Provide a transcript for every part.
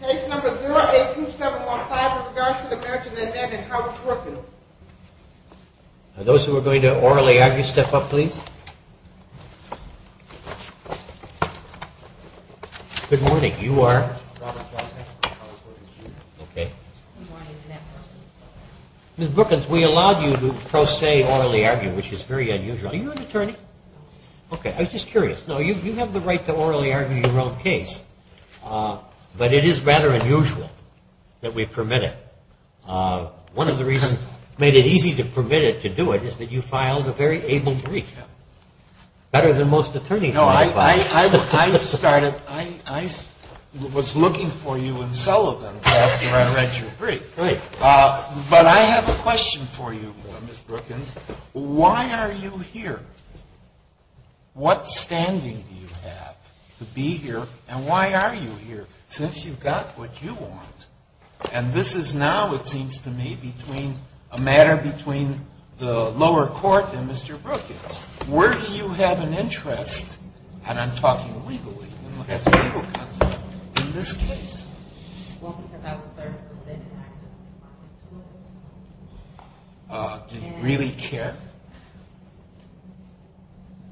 Case number 082715 with regards to the marriage of Annette and Howard Brookins. Are those who are going to orally argue, step up please. Good morning. You are? Robert Johnson. Ms. Brookins, we allowed you to pro se orally argue, which is very unusual. Are you an attorney? No. Okay. I was just curious. Now, you have the right to orally argue your own case. But it is rather unusual that we permit it. One of the reasons we made it easy to permit it, to do it, is that you filed a very able brief. Better than most attorneys do. No, I started, I was looking for you in Sullivan's after I read your brief. But I have a question for you, Ms. Brookins. Why are you here? What standing do you have to be here and why are you here, since you've got what you want? And this is now, it seems to me, a matter between the lower court and Mr. Brookins. Where do you have an interest, and I'm talking legally, as a legal counsel, in this case? Well, because I was there for the bid, and I just responded to it. Do you really care?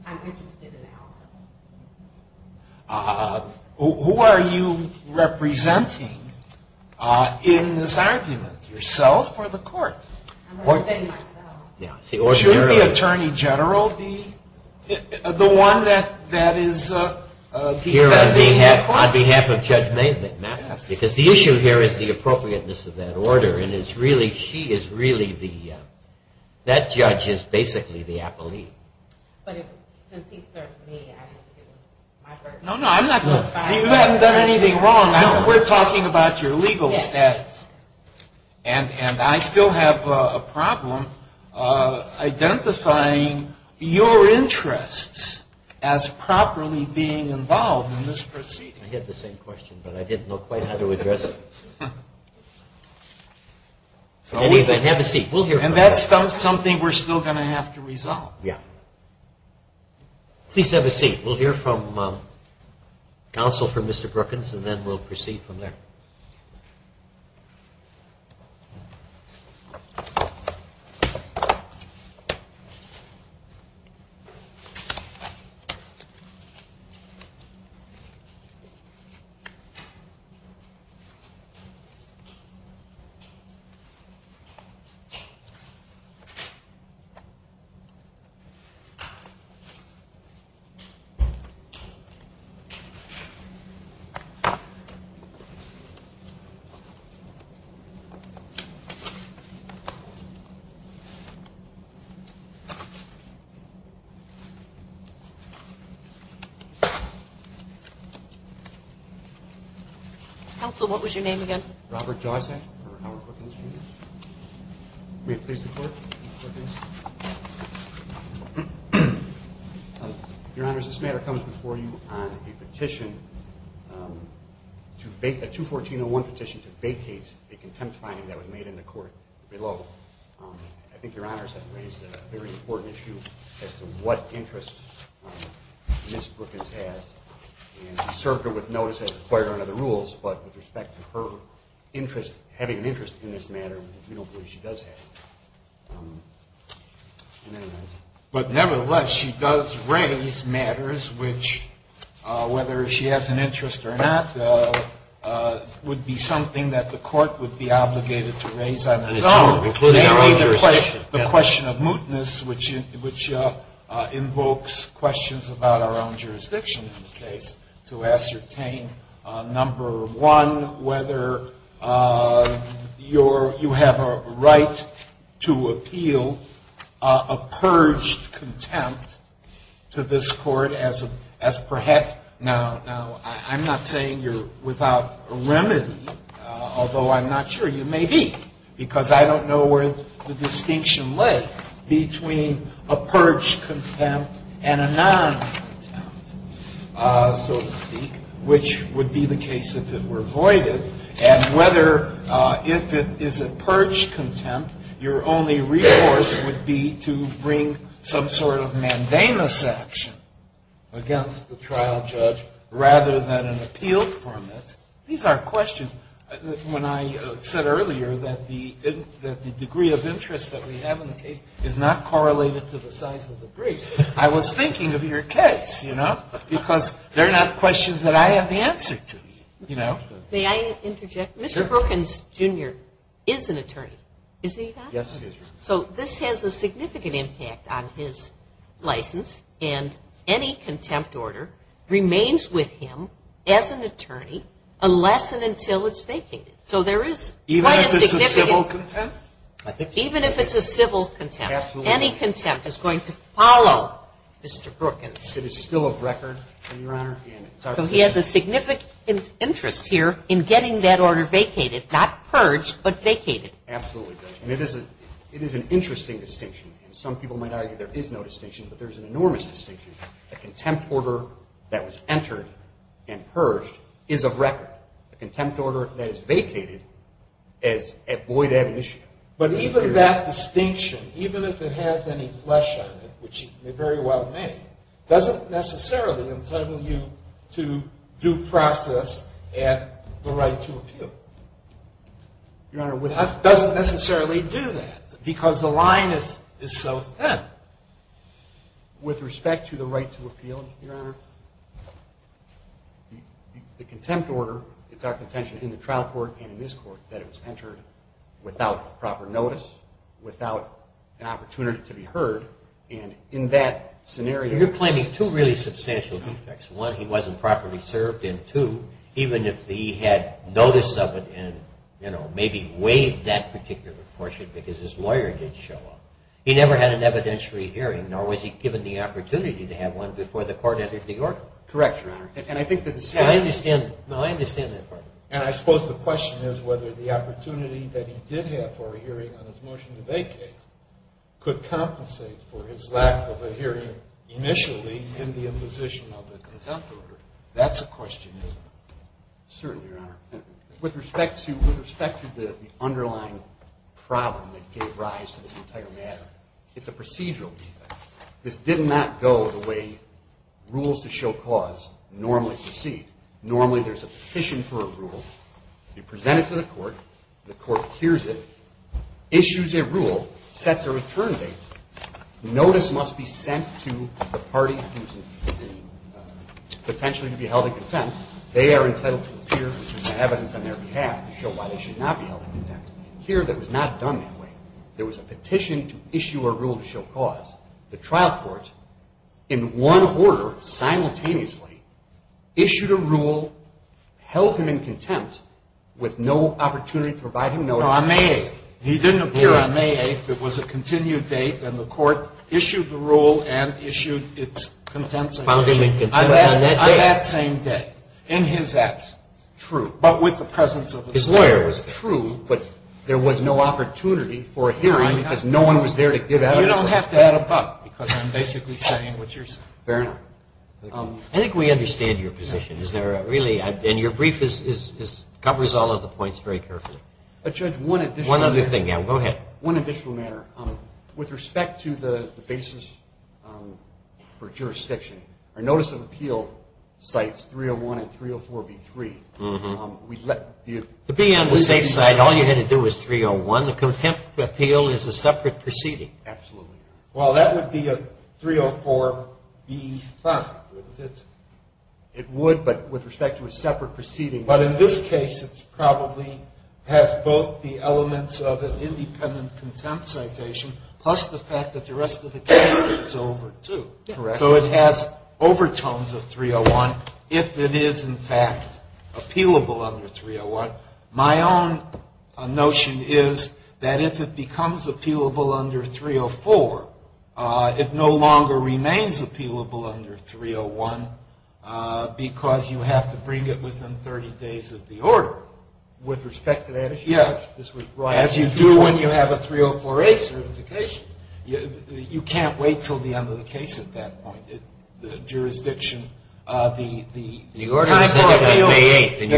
I'm interested in the outcome. Who are you representing in this argument? Yourself or the court? I'm going to say myself. Shouldn't the Attorney General be the one that is defending the court? On behalf of Judge McMaster, because the issue here is the appropriateness of that order, and it's really, she is really the, that judge is basically the appellee. But since he served me, it was my first. No, no, I'm not talking about that. You haven't done anything wrong. We're talking about your legal status. And I still have a problem identifying your interests as properly being involved in this proceeding. I had the same question, but I didn't know quite how to address it. Have a seat. And that's something we're still going to have to resolve. Yeah. Please have a seat. We'll hear from counsel for Mr. Brookins, and then we'll proceed from there. Thank you. Counsel, what was your name again? Robert Josack for Howard Brookins, Jr. May it please the Court, Mr. Brookins? Your Honors, this matter comes before you on a petition, a 214-01 petition, to vacate a contempt finding that was made in the court below. I think Your Honors has raised a very important issue as to what interest Ms. Brookins has. And he served her with notice as required under the rules. But with respect to her interest, having an interest in this matter, we don't believe she does have. But nevertheless, she does raise matters which, whether she has an interest or not, would be something that the court would be obligated to raise on its own. The question of mootness, which invokes questions about our own jurisdiction in the case, to ascertain, number one, whether you have a right to appeal a purged contempt to this court as perhaps. Now, I'm not saying you're without remedy, although I'm not sure you may be, because I don't know where the distinction lays between a purged contempt and a non-contempt, so to speak, which would be the case if it were voided, and whether, if it is a purged contempt, your only recourse would be to bring some sort of mandamus action against the trial judge rather than an appeal from it. These are questions. When I said earlier that the degree of interest that we have in the case is not correlated to the size of the briefs, I was thinking of your case, you know, because they're not questions that I have the answer to, you know. May I interject? Sure. Mr. Perkins, Jr. is an attorney. Is he not? Yes, he is. So this has a significant impact on his license, and any contempt order remains with him as an attorney unless and until it's vacated. So there is quite a significant – Even if it's a civil contempt? Even if it's a civil contempt. Absolutely. Any contempt is going to follow Mr. Perkins. It is still a record, Your Honor. So he has a significant interest here in getting that order vacated, not purged, but vacated. It absolutely does. And it is an interesting distinction. And some people might argue there is no distinction, but there is an enormous distinction. A contempt order that was entered and purged is a record. A contempt order that is vacated is void ad initio. But even that distinction, even if it has any flesh on it, which it very well may, doesn't necessarily entitle you to due process at the right to appeal. Your Honor, it doesn't necessarily do that because the line is so thin. With respect to the right to appeal, Your Honor, the contempt order, it's our contention in the trial court and in this court that it was entered without proper notice, without an opportunity to be heard. And in that scenario – You're claiming two really substantial defects. One, he wasn't properly served, and two, even if he had notice of it and maybe waived that particular portion because his lawyer didn't show up, he never had an evidentiary hearing, nor was he given the opportunity to have one before the court entered New York. Correct, Your Honor. And I think that the same – I understand. No, I understand that part. And I suppose the question is whether the opportunity that he did have for a hearing on his motion to vacate could compensate for his lack of a hearing initially in the imposition of the contempt order. That's a question, isn't it? Certainly, Your Honor. With respect to the underlying problem that gave rise to this entire matter, it's a procedural defect. This did not go the way rules to show cause normally proceed. Normally there's a petition for a rule. You present it to the court. The court hears it, issues a rule, sets a return date. Notice must be sent to the party potentially to be held in contempt. They are entitled to appear with evidence on their behalf to show why they should not be held in contempt. Here that was not done that way. There was a petition to issue a rule to show cause. The trial court, in one order, simultaneously, issued a rule, held him in contempt with no opportunity to provide him notice. No, on May 8th. He didn't appear on May 8th. It was a continued date, and the court issued the rule and issued its contempt sanction. Found him in contempt on that day. On that same day. In his absence. True. But with the presence of his lawyer. His lawyer was there. True, but there was no opportunity for a hearing because no one was there to give evidence. You don't have to add a buck because I'm basically saying what you're saying. Fair enough. I think we understand your position. And your brief covers all of the points very carefully. Judge, one additional matter. One other thing. Go ahead. One additional matter. With respect to the basis for jurisdiction, our notice of appeal cites 301 and 304b3. To be on the safe side, all you had to do was 301. The contempt appeal is a separate proceeding. Absolutely. Well, that would be a 304b5. It would, but with respect to a separate proceeding. But in this case, it probably has both the elements of an independent contempt citation, plus the fact that the rest of the case is over, too. Correct. So it has overtones of 301 if it is, in fact, appealable under 301. My own notion is that if it becomes appealable under 304, it no longer remains appealable under 301 because you have to bring it within 30 days of the order. With respect to that issue? Yes. As you do when you have a 304a certification. You can't wait until the end of the case at that point. The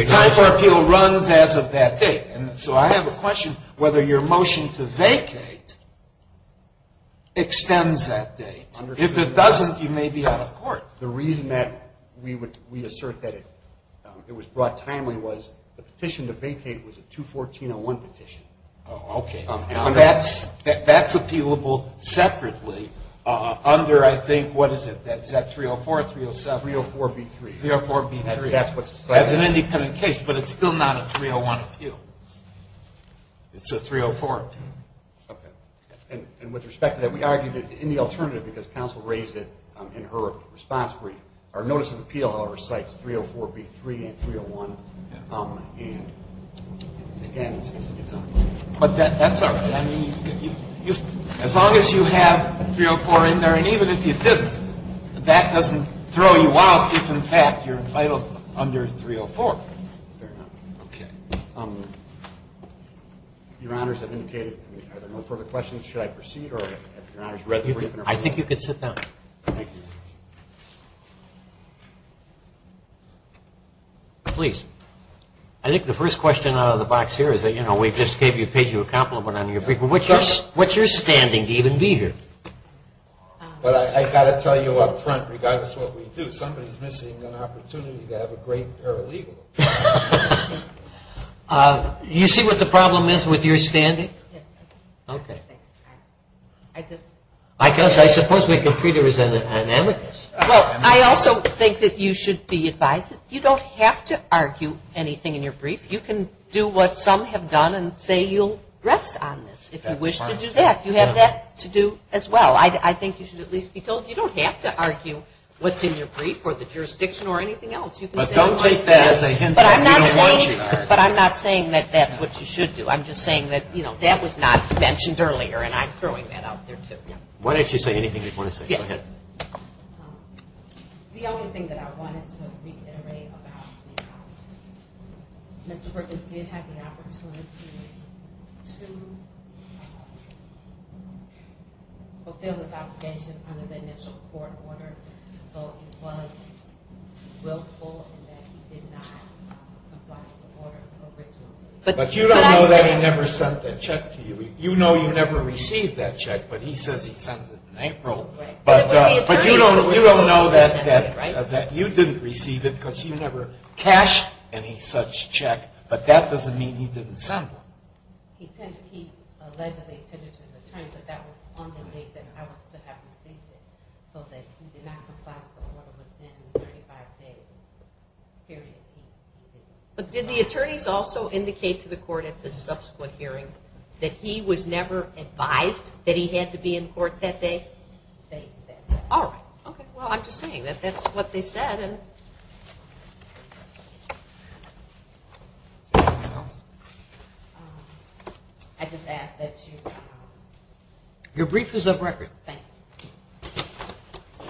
time for appeal runs as of that date. So I have a question whether your motion to vacate extends that date. If it doesn't, you may be out of court. The reason that we assert that it was brought timely was the petition to vacate was a 214.01 petition. Okay. That's appealable separately under, I think, what is it? Is that 304 or 307? 304b3. 304b3. As an independent case, but it's still not a 301 appeal. It's a 304. Okay. And with respect to that, we argued it in the alternative because counsel raised it in her response. Our notice of appeal, however, cites 304b3 and 301. But that's all right. I mean, as long as you have 304 in there, and even if you didn't, that doesn't throw you out if, in fact, you're entitled under 304. Fair enough. Okay. Your Honors, I've indicated. Are there no further questions? Should I proceed? I think you could sit down. Thank you. Please. I think the first question out of the box here is that, you know, we just paid you a compliment on your briefing. What's your standing to even be here? Well, I've got to tell you up front, regardless of what we do, somebody's missing an opportunity to have a great paralegal. You see what the problem is with your standing? Okay. I guess I suppose we can treat her as an amicus. Well, I also think that you should be advised that you don't have to argue anything in your brief. You can do what some have done and say you'll rest on this if you wish to do that. You have that to do as well. I think you should at least be told you don't have to argue what's in your brief or the jurisdiction or anything else. But don't take that as a hint that we don't want you to argue. But I'm not saying that that's what you should do. I'm just saying that, you know, that was not mentioned earlier, and I'm throwing that out there too. Why don't you say anything you want to say? Go ahead. The only thing that I wanted to reiterate about Mr. Perkins did have the opportunity to fulfill his obligation under the initial court order. So he was willful in that he did not comply with the order originally. But you don't know that he never sent that check to you. You know you never received that check, but he says he sent it in April. But you don't know that you didn't receive it because you never cashed any such check. But that doesn't mean he didn't send one. He allegedly tended to return, but that was on the date that I was to have received it. So he did not comply with the order within the 35-day period. But did the attorneys also indicate to the court at the subsequent hearing that he was never advised that he had to be in court that day? They did. All right. Okay. Well, I'm just saying that that's what they said. I just ask that you... Your brief is up for record. Thank you.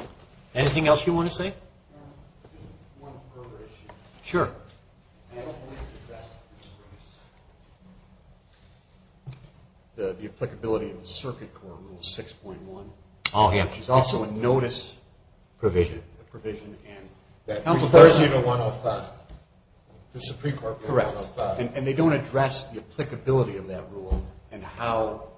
Anything else you want to say? One further issue. Sure. I don't think it's addressed in the briefs. The applicability of the Circuit Court Rule 6.1. Oh, yeah. Which is also a notice... Provision. A provision and... That refers you to 105. The Supreme Court... Correct. 105. And they don't address the applicability of that rule and how...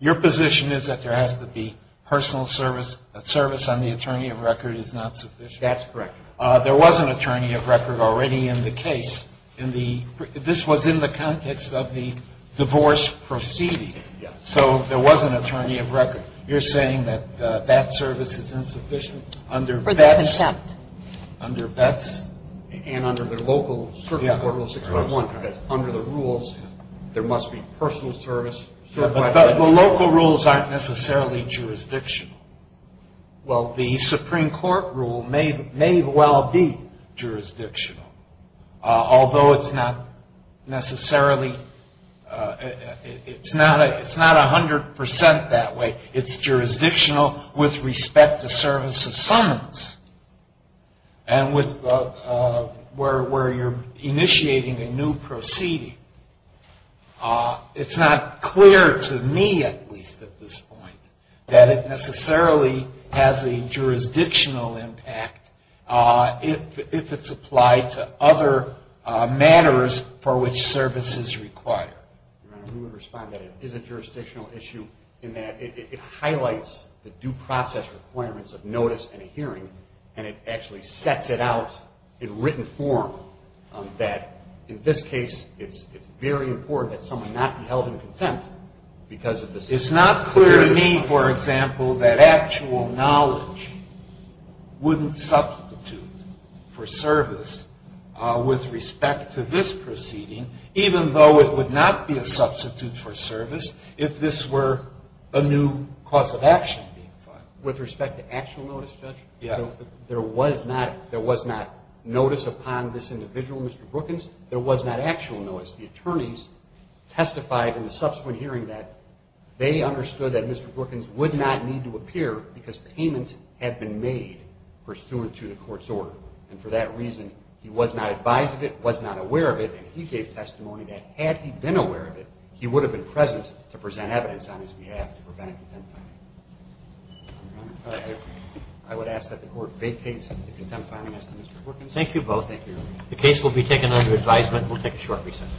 Your position is that there has to be personal service. Service on the attorney of record is not sufficient. That's correct. There was an attorney of record already in the case. This was in the context of the divorce proceeding. Yes. So there was an attorney of record. You're saying that that service is insufficient under VETS... For the contempt. Under VETS and under the local Circuit Court Rule 6.1. Under the rules, there must be personal service. But the local rules aren't necessarily jurisdictional. Well, the Supreme Court rule may well be jurisdictional, although it's not necessarily... It's not 100% that way. It's jurisdictional with respect to service of summons and where you're initiating a new proceeding. It's not clear to me, at least at this point, that it necessarily has a jurisdictional impact if it's applied to other matters for which service is required. Your Honor, we would respond that it is a jurisdictional issue in that it sets it out in written form that, in this case, it's very important that someone not be held in contempt because of the... It's not clear to me, for example, that actual knowledge wouldn't substitute for service with respect to this proceeding, even though it would not be a substitute for service if this were a new cause of action being filed. With respect to actual notice, Judge? Yeah. There was not notice upon this individual, Mr. Brookins. There was not actual notice. The attorneys testified in the subsequent hearing that they understood that Mr. Brookins would not need to appear because payment had been made pursuant to the Court's order. And for that reason, he was not advised of it, was not aware of it, and he gave testimony that, had he been aware of it, he would have been present to present evidence on his behalf to prevent contempt finding. I would ask that the Court vacate the contempt finding as to Mr. Brookins. Thank you both. The case will be taken under advisement. We'll take a short recess.